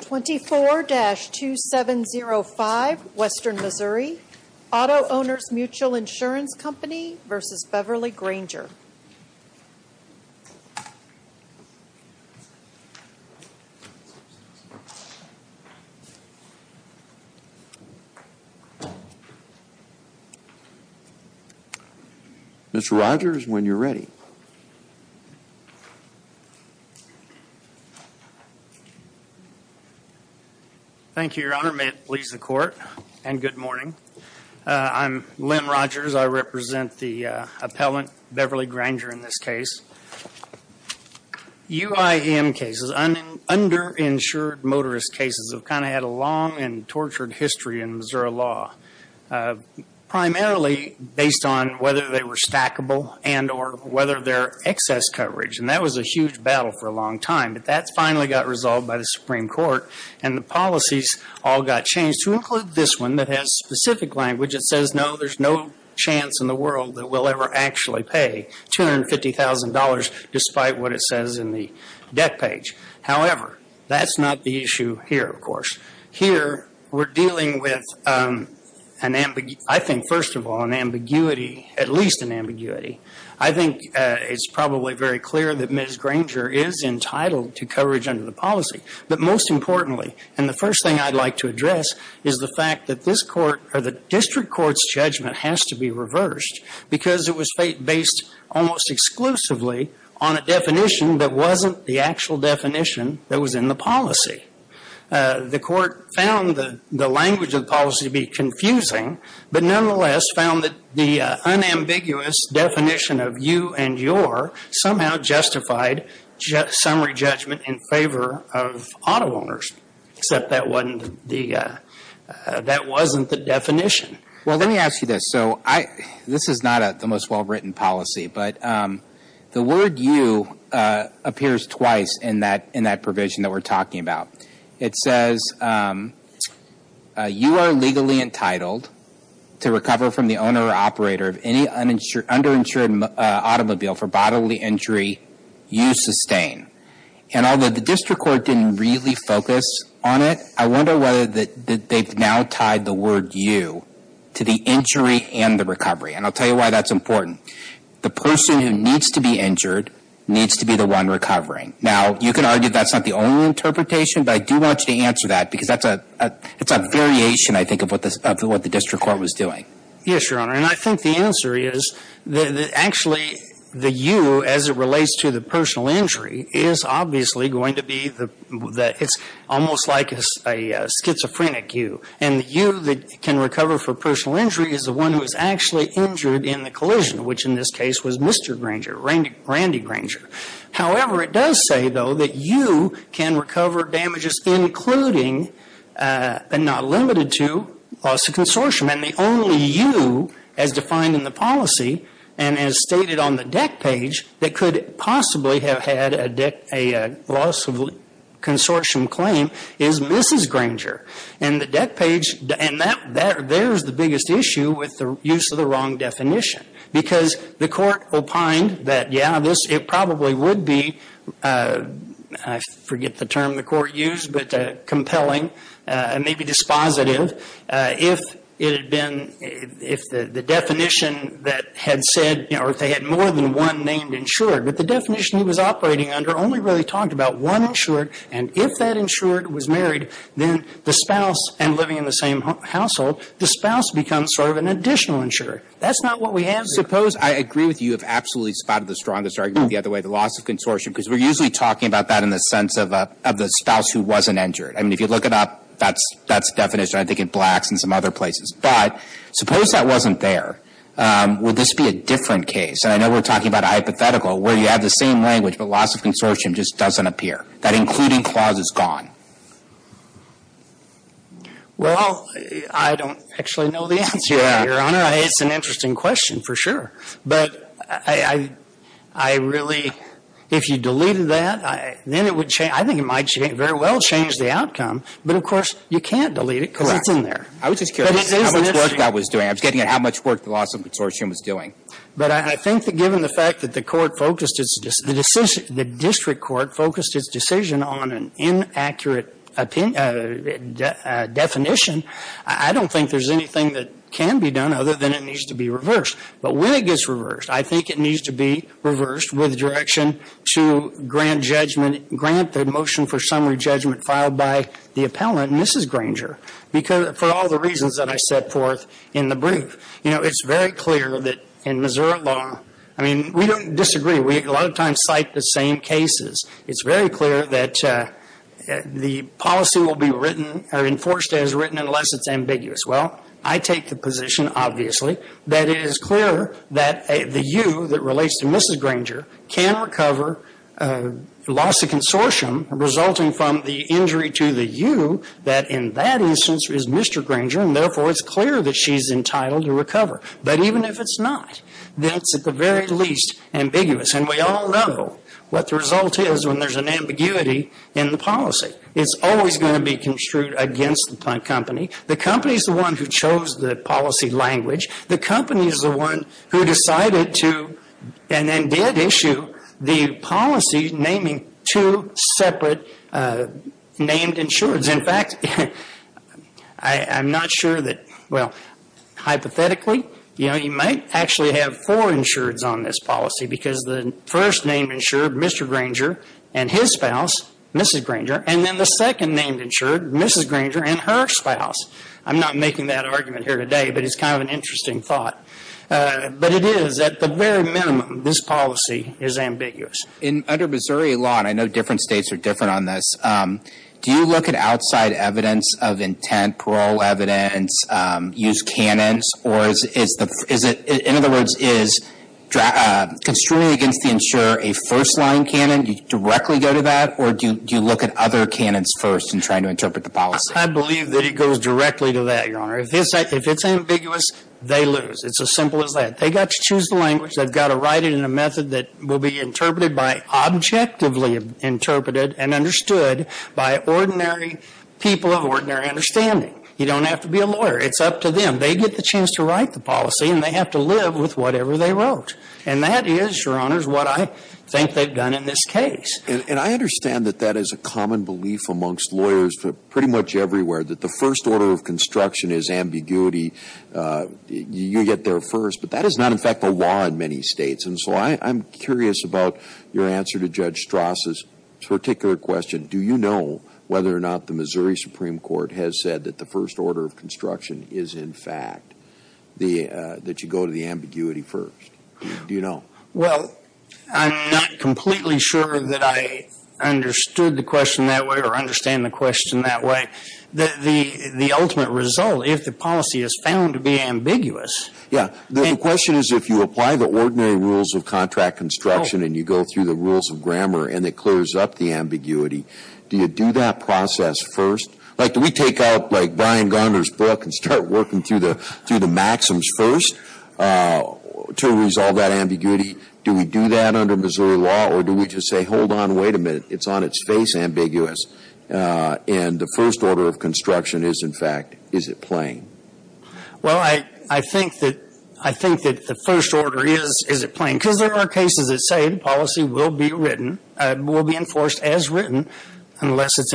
24-2705 Western Missouri Auto-Owners Mutual Insurance Company v. Beverly Granger Mr. Rogers, when you're ready. Thank you, Your Honor. May it please the Court. And good morning. I'm Len Rogers. I represent the appellant, Beverly Granger, in this case. UIM cases, underinsured motorist cases, have kind of had a long and tortured history in Missouri law, primarily based on whether they were stackable and or whether they're excess coverage. And that was a huge battle for a long time. But that finally got resolved by the Supreme Court, and the policies all got changed to include this one that has specific language. It says, no, there's no chance in the world that we'll ever actually pay $250,000, despite what it says in the debt page. However, that's not the issue here, of course. Here, we're dealing with an ambiguity. I think, first of all, an ambiguity, at least an ambiguity. I think it's probably very clear that Ms. Granger is entitled to coverage under the policy. But most importantly, and the first thing I'd like to address, is the fact that this district court's judgment has to be reversed, because it was based almost exclusively on a definition that wasn't the actual definition that was in the policy. The court found the language of the policy to be confusing, but nonetheless found that the unambiguous definition of you and your somehow justified summary judgment in favor of auto owners, except that wasn't the definition. Well, let me ask you this. This is not the most well-written policy, but the word you appears twice in that provision that we're talking about. It says, you are legally entitled to recover from the owner or operator of any underinsured automobile for bodily injury you sustain. And although the district court didn't really focus on it, I wonder whether they've now tied the word you to the injury and the recovery. And I'll tell you why that's important. The person who needs to be injured needs to be the one recovering. Now, you can argue that's not the only interpretation, but I do want you to answer that, because that's a variation, I think, of what the district court was doing. Yes, Your Honor, and I think the answer is that actually the you, as it relates to the personal injury, is obviously going to be the – it's almost like a schizophrenic you. And the you that can recover for personal injury is the one who is actually injured in the collision, which in this case was Mr. Granger, Randy Granger. However, it does say, though, that you can recover damages including, and not limited to, loss of consortium. And the only you, as defined in the policy and as stated on the deck page, that could possibly have had a loss of consortium claim is Mrs. Granger. And the deck page – and there's the biggest issue with the use of the wrong definition. Because the court opined that, yeah, this – it probably would be – I forget the term the court used, but compelling, maybe dispositive, if it had been – if the definition that had said – or if they had more than one named insured, but the definition he was operating under only really talked about one insured. And if that insured was married, then the spouse – and living in the same household – the spouse becomes sort of an additional insured. That's not what we have here. Suppose – I agree with you. You have absolutely spotted the strongest argument the other way, the loss of consortium, because we're usually talking about that in the sense of the spouse who wasn't insured. I mean, if you look it up, that's the definition, I think, in Blacks and some other places. But suppose that wasn't there. Would this be a different case? And I know we're talking about a hypothetical where you have the same language, but loss of consortium just doesn't appear. That including clause is gone. Well, I don't actually know the answer, Your Honor. It's an interesting question, for sure. But I really – if you deleted that, then it would change – I think it might very well change the outcome. But, of course, you can't delete it because it's in there. I was just curious how much work that was doing. I was getting at how much work the loss of consortium was doing. But I think that given the fact that the court focused its – the district court focused its decision on an inaccurate definition, I don't think there's anything that can be done other than it needs to be reversed. But when it gets reversed, I think it needs to be reversed with direction to grant judgment – grant the motion for summary judgment filed by the appellant, Mrs. Granger, for all the reasons that I set forth in the brief. You know, it's very clear that in Missouri law – I mean, we don't disagree. We a lot of times cite the same cases. It's very clear that the policy will be written – or enforced as written unless it's ambiguous. Well, I take the position, obviously, that it is clear that the U that relates to Mrs. Granger can recover loss of consortium resulting from the injury to the U that in that instance is Mr. Granger, and therefore it's clear that she's entitled to recover. But even if it's not, then it's at the very least ambiguous. And we all know what the result is when there's an ambiguity in the policy. It's always going to be construed against the company. The company is the one who chose the policy language. The company is the one who decided to – and then did issue the policy naming two separate named insureds. In fact, I'm not sure that – well, hypothetically, you know, you might actually have four insureds on this policy because the first named insured, Mr. Granger, and his spouse, Mrs. Granger, and then the second named insured, Mrs. Granger, and her spouse. I'm not making that argument here today, but it's kind of an interesting thought. But it is, at the very minimum, this policy is ambiguous. In – under Missouri law, and I know different states are different on this, do you look at outside evidence of intent, parole evidence, used canons, or is it – in other words, is construing against the insurer a first-line canon, do you directly go to that, or do you look at other canons first in trying to interpret the policy? I believe that it goes directly to that, Your Honor. If it's ambiguous, they lose. It's as simple as that. They've got to choose the language, they've got to write it in a method that will be interpreted by – objectively interpreted and understood by ordinary people of ordinary understanding. You don't have to be a lawyer. It's up to them. They get the chance to write the policy, and they have to live with whatever they wrote. And that is, Your Honor, is what I think they've done in this case. And I understand that that is a common belief amongst lawyers pretty much everywhere, that the first order of construction is ambiguity. You get there first. But that is not, in fact, the law in many states. And so I'm curious about your answer to Judge Strasse's particular question. Do you know whether or not the Missouri Supreme Court has said that the first order of construction is, in fact, the – that you go to the ambiguity first? Do you know? Well, I'm not completely sure that I understood the question that way or understand the question that way. The ultimate result, if the policy is found to be ambiguous – Yeah. The question is, if you apply the ordinary rules of contract construction and you go through the rules of grammar and it clears up the ambiguity, do you do that process first? Like, do we take out, like, Brian Garner's book and start working through the maxims first to resolve that ambiguity? Do we do that under Missouri law, or do we just say, hold on, wait a minute, it's on its face, ambiguous, and the first order of construction is, in fact, is it plain? Well, I think that – I think that the first order is, is it plain? Because there are cases that say the policy will be written – will be enforced as written unless it's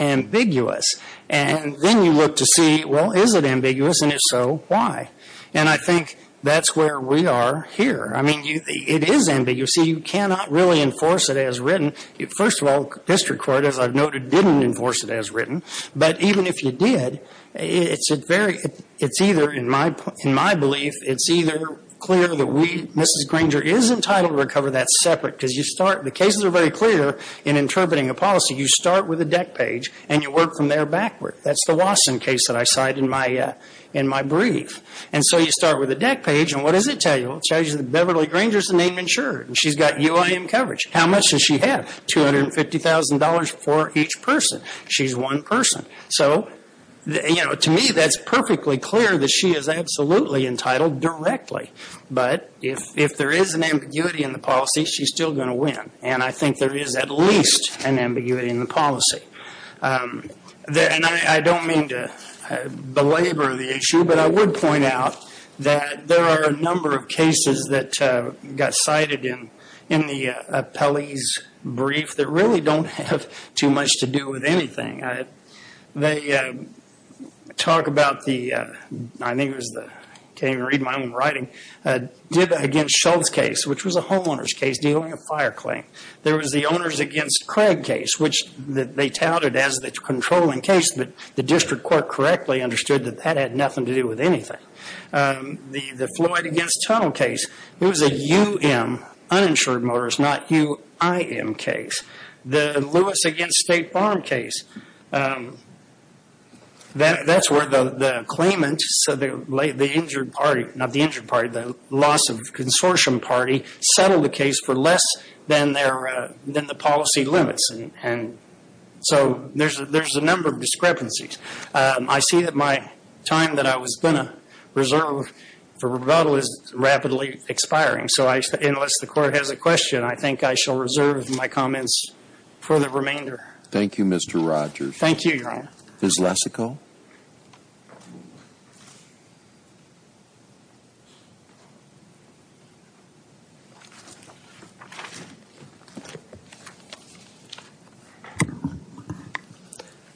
ambiguous. And then you look to see, well, is it ambiguous, and if so, why? And I think that's where we are here. I mean, it is ambiguous. See, you cannot really enforce it as written. First of all, district court, as I've noted, didn't enforce it as written. But even if you did, it's a very – it's either, in my belief, it's either clear that we, Mrs. Granger, is entitled to recover that separate, because you start – the cases are very clear in interpreting a policy. You start with a deck page, and you work from there backward. That's the Wasson case that I cited in my – in my brief. And so you start with a deck page, and what does it tell you? Well, it tells you that Beverly Granger's the name insured, and she's got UIM coverage. How much does she have? $250,000 for each person. She's one person. So, you know, to me, that's perfectly clear that she is absolutely entitled directly. But if there is an ambiguity in the policy, she's still going to win. And I think there is at least an ambiguity in the policy. And I don't mean to belabor the issue, but I would point out that there are a number of cases that got cited in the appellee's brief that really don't have too much to do with anything. They talk about the – I think it was the – I can't even read my own writing – did against Schultz case, which was a homeowner's case dealing a fire claim. There was the owners against Craig case, which they touted as the controlling case, but the district court correctly understood that that had nothing to do with anything. The Floyd against Tunnell case, it was a UM, uninsured motorist, not UIM case. The Lewis against State Farm case, that's where the claimant – so the injured party – not the injured party, the loss of consortium party settled the case for less than the policy limits. And so there's a number of discrepancies. I see that my time that I was going to reserve for rebuttal is rapidly expiring. So unless the court has a question, I think I shall reserve my comments for the remainder. Thank you, Mr. Rogers. Thank you, Your Honor. Ms. Lesico?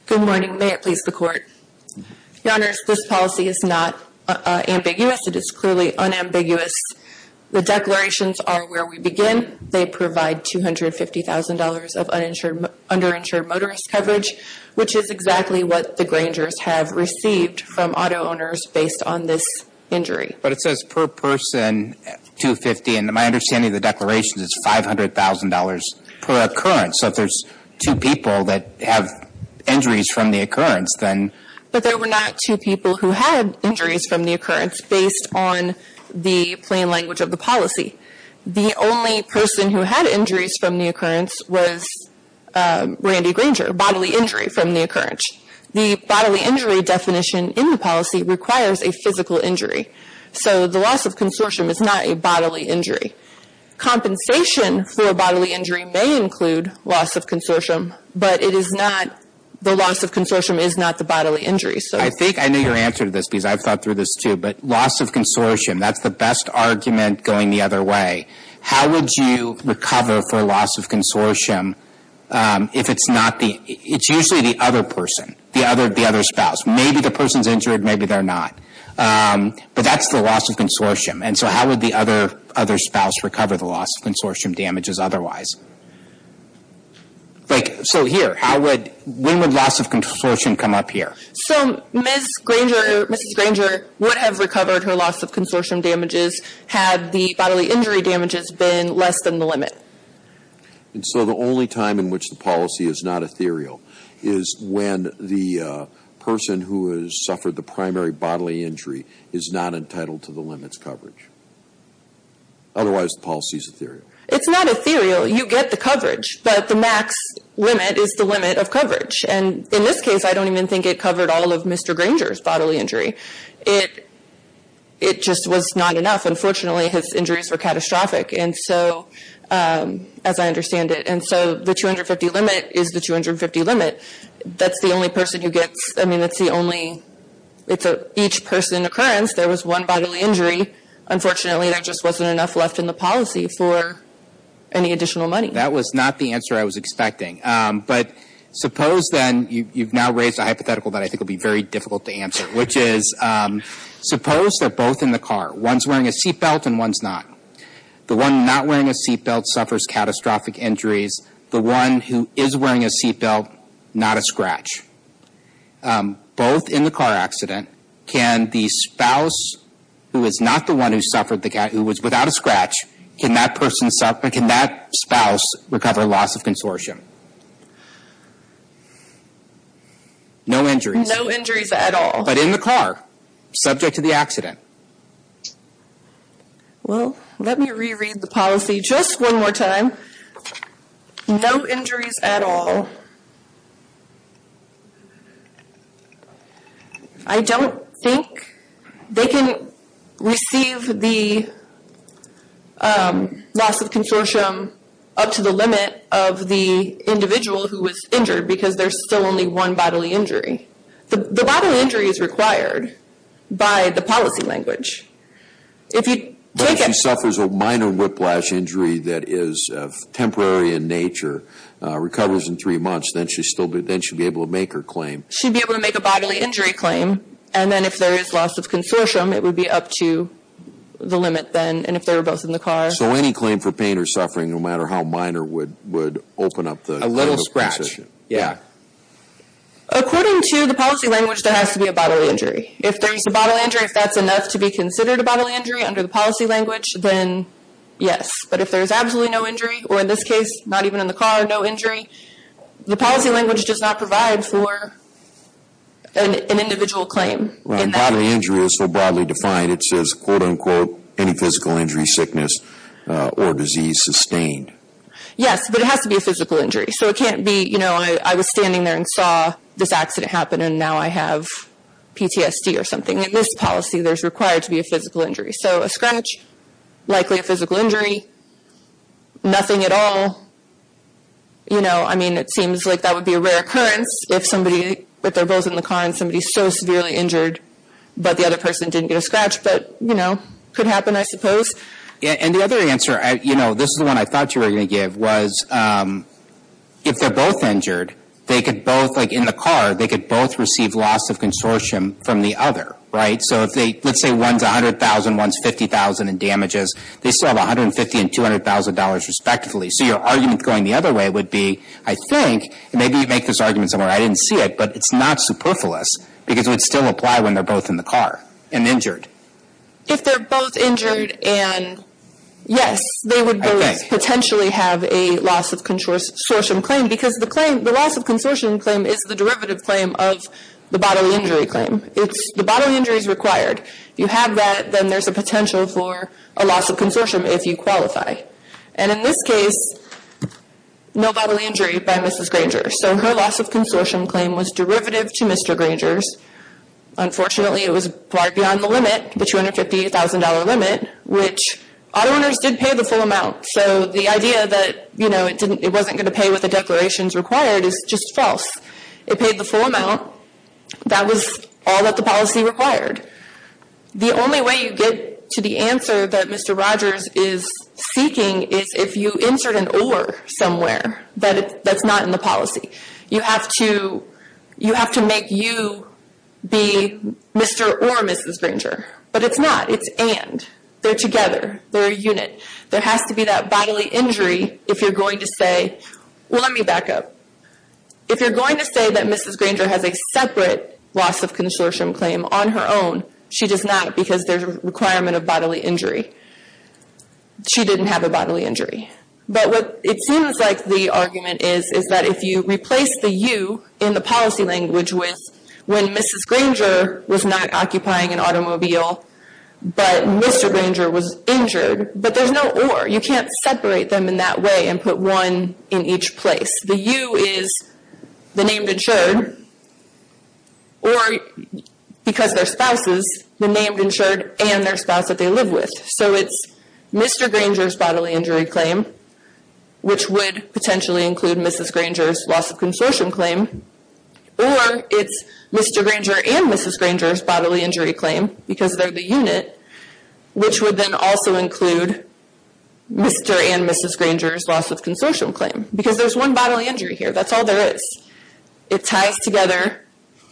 Good morning. May it please the Court. Your Honors, this policy is not ambiguous. It is clearly unambiguous. The declarations are where we begin. They provide $250,000 of underinsured motorist coverage, which is exactly what the Grangers have received from auto owners based on this injury. But it says per person, $250,000, and my understanding of the declarations is $500,000 per occurrence. So if there's two people that have injuries from the occurrence, then… But there were not two people who had injuries from the occurrence based on the plain language of the policy. The only person who had injuries from the occurrence was Randy Granger, bodily injury from the occurrence. The bodily injury definition in the policy requires a physical injury. So the loss of consortium is not a bodily injury. Compensation for a bodily injury may include loss of consortium, but the loss of consortium is not the bodily injury. I think I know your answer to this because I've thought through this, too. But loss of consortium, that's the best argument going the other way. How would you recover for loss of consortium if it's not the… It's usually the other person, the other spouse. Maybe the person's injured, maybe they're not. But that's the loss of consortium. And so how would the other spouse recover the loss of consortium damages otherwise? So here, when would loss of consortium come up here? So Ms. Granger, Mrs. Granger would have recovered her loss of consortium damages had the bodily injury damages been less than the limit. And so the only time in which the policy is not ethereal is when the person who has suffered the primary bodily injury is not entitled to the limit's coverage. Otherwise, the policy is ethereal. It's not ethereal. You get the coverage. But the max limit is the limit of coverage. And in this case, I don't even think it covered all of Mr. Granger's bodily injury. It just was not enough. Unfortunately, his injuries were catastrophic. And so, as I understand it, and so the 250 limit is the 250 limit. That's the only person who gets… I mean, that's the only… It's each person occurrence. There was one bodily injury. Unfortunately, there just wasn't enough left in the policy for any additional money. That was not the answer I was expecting. But suppose then, you've now raised a hypothetical that I think will be very difficult to answer, which is, suppose they're both in the car. One's wearing a seatbelt and one's not. The one not wearing a seatbelt suffers catastrophic injuries. The one who is wearing a seatbelt, not a scratch. Both in the car accident, can the spouse who is not the one who suffered the… who was without a scratch, can that person suffer… can that spouse recover loss of consortium? No injuries. No injuries at all. But in the car, subject to the accident. Well, let me reread the policy just one more time. No injuries at all. I don't think they can receive the loss of consortium up to the limit of the individual who was injured because there's still only one bodily injury. The bodily injury is required by the policy language. If you take it… But if she suffers a minor whiplash injury that is temporary in nature, recovers in three months, then she should be able to make her claim. She'd be able to make a bodily injury claim. And then if there is loss of consortium, it would be up to the limit then. And if they were both in the car… So any claim for pain or suffering, no matter how minor, would open up the… A little scratch, yeah. According to the policy language, there has to be a bodily injury. If there's a bodily injury, if that's enough to be considered a bodily injury under the policy language, then yes. But if there's absolutely no injury, or in this case, not even in the car, no injury, the policy language does not provide for an individual claim. Bodily injury is so broadly defined. It says, quote-unquote, any physical injury, sickness, or disease sustained. Yes, but it has to be a physical injury. So it can't be, you know, I was standing there and saw this accident happen, and now I have PTSD or something. In this policy, there's required to be a physical injury. So a scratch, likely a physical injury, nothing at all, you know. I mean, it seems like that would be a rare occurrence if somebody… If they're both in the car and somebody's so severely injured, but the other person didn't get a scratch. But, you know, could happen, I suppose. Yeah, and the other answer, you know, this is the one I thought you were going to give, was if they're both injured, they could both, like in the car, they could both receive loss of consortium from the other, right? So if they, let's say one's $100,000, one's $50,000 in damages, they still have $150,000 and $200,000 respectively. So your argument going the other way would be, I think, and maybe you make this argument somewhere, I didn't see it, but it's not superfluous. Because it would still apply when they're both in the car and injured. If they're both injured and… Yes, they would both potentially have a loss of consortium claim. Because the claim, the loss of consortium claim is the derivative claim of the bodily injury claim. It's the bodily injury is required. If you have that, then there's a potential for a loss of consortium if you qualify. And in this case, no bodily injury by Mrs. Granger. So her loss of consortium claim was derivative to Mr. Granger's. Unfortunately, it was far beyond the limit, the $250,000 limit, which auto owners did pay the full amount. So the idea that it wasn't going to pay what the declarations required is just false. It paid the full amount. That was all that the policy required. The only way you get to the answer that Mr. Rogers is seeking is if you insert an or somewhere that's not in the policy. You have to make you be Mr. or Mrs. Granger. But it's not. It's and. They're together. They're a unit. There has to be that bodily injury if you're going to say, well, let me back up. If you're going to say that Mrs. Granger has a separate loss of consortium claim on her own, she does not because there's a requirement of bodily injury. She didn't have a bodily injury. But what it seems like the argument is, is that if you replace the you in the policy language with when Mrs. Granger was not occupying an automobile, but Mr. Granger was injured, but there's no or. You can't separate them in that way and put one in each place. The you is the named insured or because their spouses, the named insured and their spouse that they live with. So it's Mr. Granger's bodily injury claim, which would potentially include Mrs. Granger's loss of consortium claim. Or it's Mr. Granger and Mrs. Granger's bodily injury claim because they're the unit, which would then also include Mr. and Mrs. Granger's loss of consortium claim. Because there's one bodily injury here. That's all there is. It ties together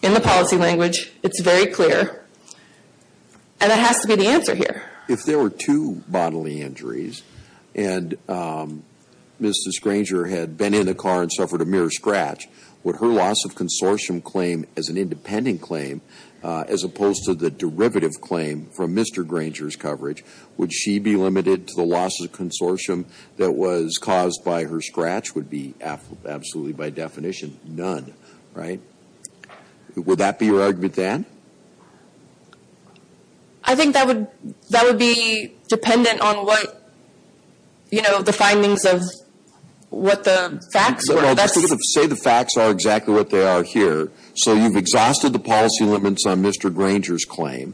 in the policy language. It's very clear. And it has to be the answer here. If there were two bodily injuries and Mrs. Granger had been in a car and suffered a mere scratch, would her loss of consortium claim as an independent claim, as opposed to the derivative claim from Mr. Granger's coverage, would she be limited to the loss of consortium that was caused by her scratch? Would be absolutely by definition none, right? Would that be your argument then? I think that would be dependent on what, you know, the findings of what the facts are. Say the facts are exactly what they are here. So you've exhausted the policy limits on Mr. Granger's claim.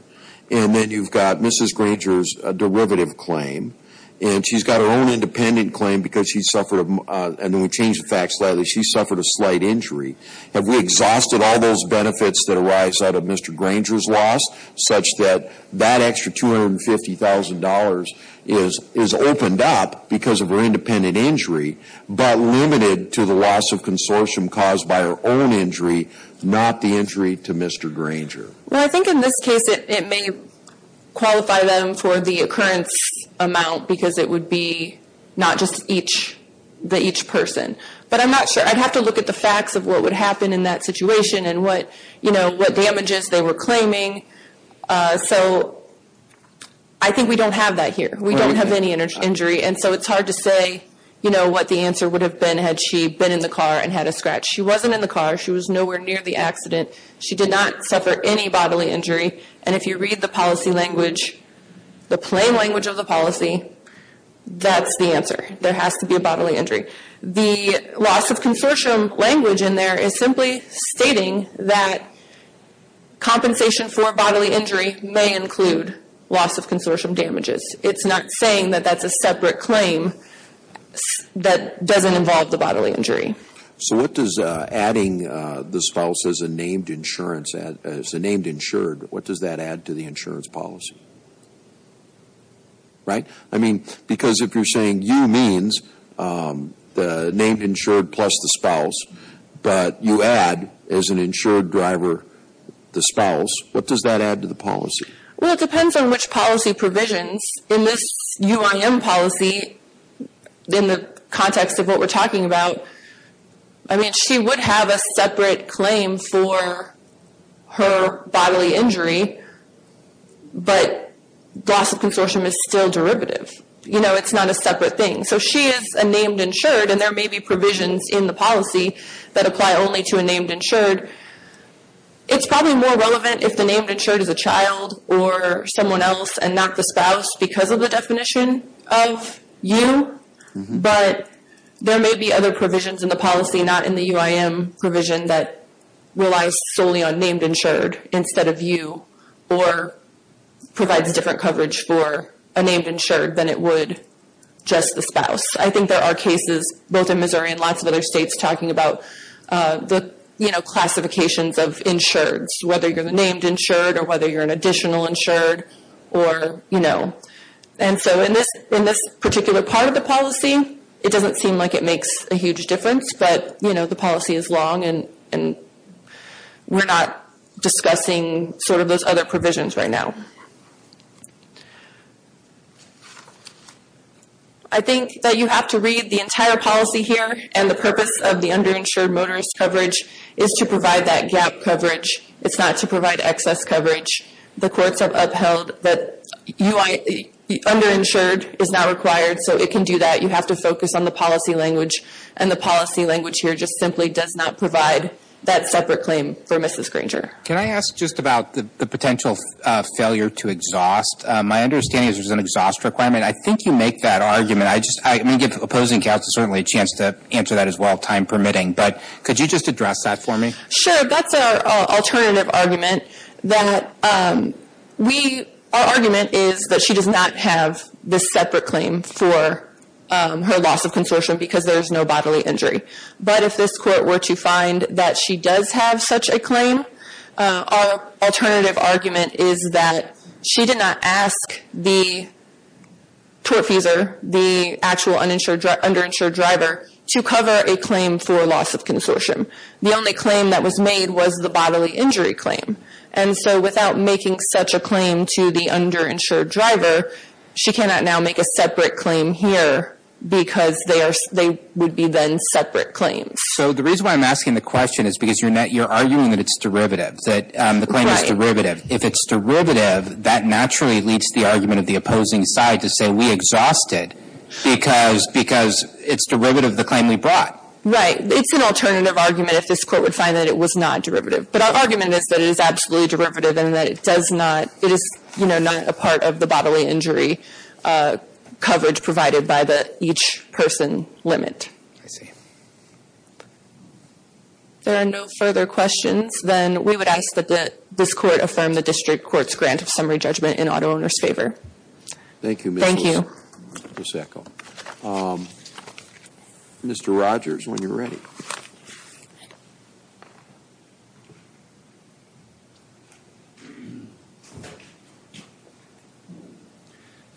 And then you've got Mrs. Granger's derivative claim. And she's got her own independent claim because she suffered, and then we changed the facts slightly, she suffered a slight injury. Have we exhausted all those benefits that arise out of Mr. Granger's claim? Mr. Granger's loss, such that that extra $250,000 is opened up because of her independent injury, but limited to the loss of consortium caused by her own injury, not the injury to Mr. Granger. Well, I think in this case it may qualify them for the occurrence amount, because it would be not just each, the each person. But I'm not sure. I'd have to look at the facts of what would happen in that situation and what, you know, what damages they were claiming. So I think we don't have that here. We don't have any injury. And so it's hard to say, you know, what the answer would have been had she been in the car and had a scratch. She wasn't in the car. She was nowhere near the accident. She did not suffer any bodily injury. And if you read the policy language, the plain language of the policy, that's the answer. There has to be a bodily injury. The loss of consortium language in there is simply stating that compensation for bodily injury may include loss of consortium damages. It's not saying that that's a separate claim that doesn't involve the bodily injury. So what does adding the spouse as a named insurance, as a named insured, what does that add to the insurance policy? Right? I mean, because if you're saying you means the named insured plus the spouse, but you add as an insured driver, the spouse, what does that add to the policy? Well, it depends on which policy provisions in this UIM policy, in the context of what we're talking about. I mean, she would have a separate claim for her bodily injury. But loss of consortium is still derivative. You know, it's not a separate thing. So she is a named insured, and there may be provisions in the policy that apply only to a named insured. It's probably more relevant if the named insured is a child or someone else and not the spouse because of the definition of you. But there may be other provisions in the policy, not in the UIM provision, that relies solely on named insured instead of you. Or provides different coverage for a named insured than it would just the spouse. I think there are cases, both in Missouri and lots of other states, talking about the classifications of insureds, whether you're the named insured or whether you're an additional insured or, you know. And so in this particular part of the policy, it doesn't seem like it makes a huge difference. But, you know, the policy is long, and we're not discussing sort of those other provisions right now. I think that you have to read the entire policy here. And the purpose of the underinsured motorist coverage is to provide that gap coverage. It's not to provide excess coverage. The courts have upheld that underinsured is not required. So it can do that. You have to focus on the policy language. And the policy language here just simply does not provide that separate claim for Mrs. Granger. Can I ask just about the potential failure to exhaust? My understanding is there's an exhaust requirement. I think you make that argument. I just, I mean, give opposing counsel certainly a chance to answer that as well, time permitting. But could you just address that for me? Sure. That's our alternative argument. That we, our argument is that she does not have this separate claim for her loss of consortium because there's no bodily injury. But if this court were to find that she does have such a claim, our alternative argument is that she did not ask the tortfeasor, the actual underinsured driver, to cover a claim for loss of consortium. The only claim that was made was the bodily injury claim. And so without making such a claim to the underinsured driver, she cannot now make a separate claim here because they would be then separate claims. So the reason why I'm asking the question is because you're arguing that it's derivative, that the claim is derivative. If it's derivative, that naturally leads to the argument of the opposing side to say, we exhaust it because it's derivative of the claim we brought. Right. It's an alternative argument if this court would find that it was not derivative. But our argument is that it is absolutely derivative and that it does not, it is not a part of the bodily injury coverage provided by the each person limit. I see. There are no further questions. Then we would ask that this court affirm the district court's grant of summary judgment in auto owner's favor. Thank you, Ms. Luceko. Thank you. Mr. Rogers, when you're ready.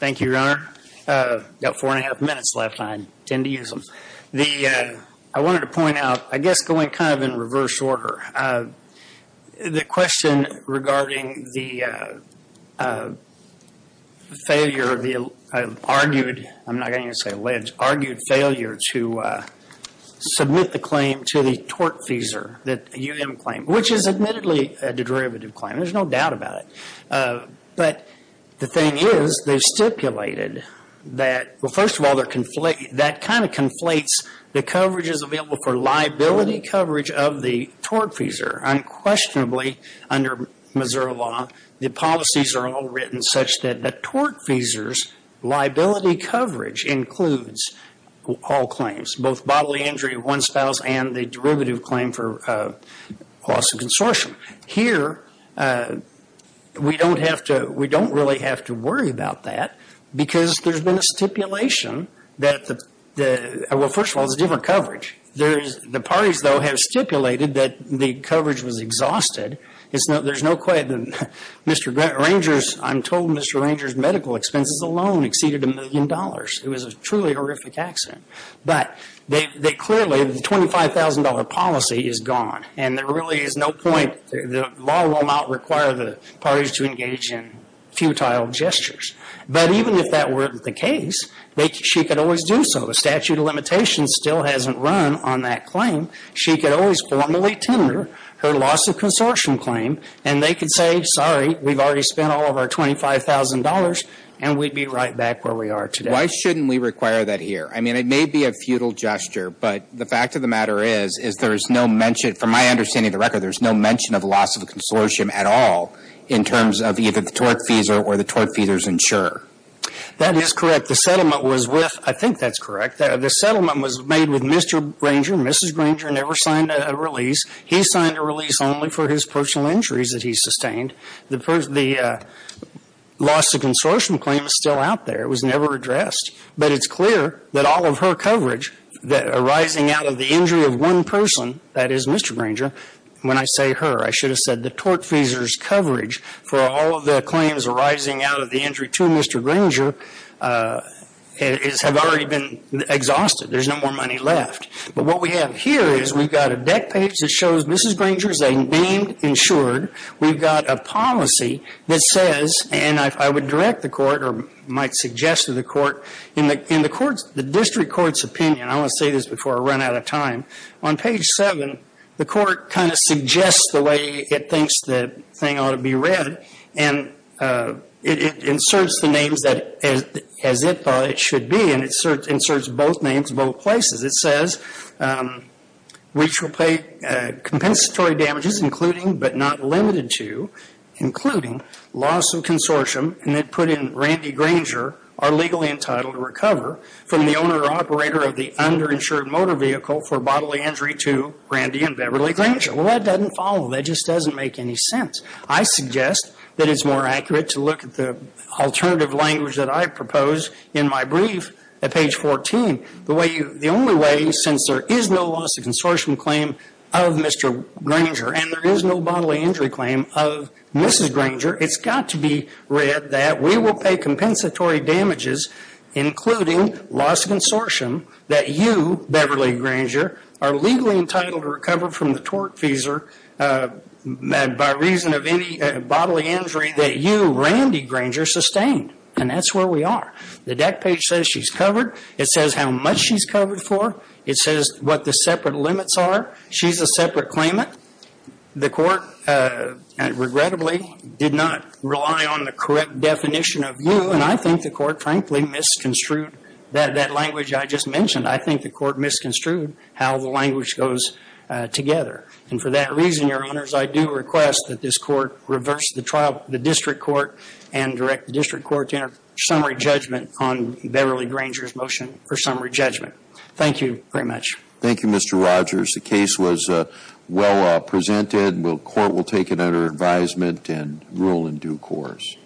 Thank you, Your Honor. Got four and a half minutes left. I tend to use them. I wanted to point out, I guess going kind of in reverse order, the question regarding the failure of the argued, I'm not going to say alleged, argued failure to submit the claim to the tortfeasor that UM claimed, which is admittedly a derivative claim. There's no doubt about it. But the thing is, they've stipulated that, well, first of all, that kind of conflates the coverages available for liability coverage of the tortfeasor. Unquestionably, under Missouri law, the policies are all written such that the tortfeasor's coverage includes all claims, both bodily injury of one spouse and the derivative claim for loss of consortium. Here, we don't really have to worry about that because there's been a stipulation that, well, first of all, it's a different coverage. The parties, though, have stipulated that the coverage was exhausted. I'm told Mr. Ranger's medical expenses alone exceeded a million dollars. It was a truly horrific accident. But clearly, the $25,000 policy is gone, and there really is no point. The law will not require the parties to engage in futile gestures. But even if that weren't the case, she could always do so. The statute of limitations still hasn't run on that claim. She could always formally tender her loss of consortium claim, and they could say, sorry, we've already spent all of our $25,000, and we'd be right back where we are today. Why shouldn't we require that here? I mean, it may be a futile gesture, but the fact of the matter is, is there is no mention, from my understanding of the record, there's no mention of loss of consortium at all in terms of either the tortfeasor or the tortfeasor's insurer. That is correct. The settlement was with, I think that's correct. The settlement was made with Mr. Granger. Mrs. Granger never signed a release. He signed a release only for his personal injuries that he sustained. The loss of consortium claim is still out there. It was never addressed. But it's clear that all of her coverage arising out of the injury of one person, that is Mr. Granger, when I say her, I should have said the tortfeasor's coverage for all of the claims arising out of the injury to Mr. Granger have already been exhausted. There's no more money left. But what we have here is we've got a deck page that shows Mrs. Granger is a named insured. We've got a policy that says, and I would direct the court or might suggest to the court, in the district court's opinion, I want to say this before I run out of time, on page seven, the court kind of suggests the way it thinks the thing ought to be read. And it inserts the names as it thought it should be. And it inserts both names in both places. It says, we shall pay compensatory damages including, but not limited to, including loss of consortium and it put in Randy Granger are legally entitled to recover from the owner or operator of the underinsured motor vehicle for bodily injury to Randy and Beverly Granger. Well, that doesn't follow. That just doesn't make any sense. I suggest that it's more accurate to look at the alternative language that I propose in my brief at page 14. The way you, the only way, since there is no loss of consortium claim of Mr. Granger and there is no bodily injury claim of Mrs. Granger, it's got to be read that we will pay compensatory damages including loss of consortium that you, Beverly Granger, are legally entitled to recover from the torque feeser by reason of any bodily injury that you, Randy Granger, sustained. And that's where we are. The deck page says she's covered. It says how much she's covered for. It says what the separate limits are. She's a separate claimant. The court, regrettably, did not rely on the correct definition of you. And I think the court, frankly, misconstrued that language I just mentioned. I think the court misconstrued how the language goes together. And for that reason, Your Honors, I do request that this court reverse the trial, the district court, and direct the district court to enter summary judgment on Beverly Granger's motion for summary judgment. Thank you very much. Thank you, Mr. Rogers. The case was well presented. And the court will take it under advisement and rule in due course.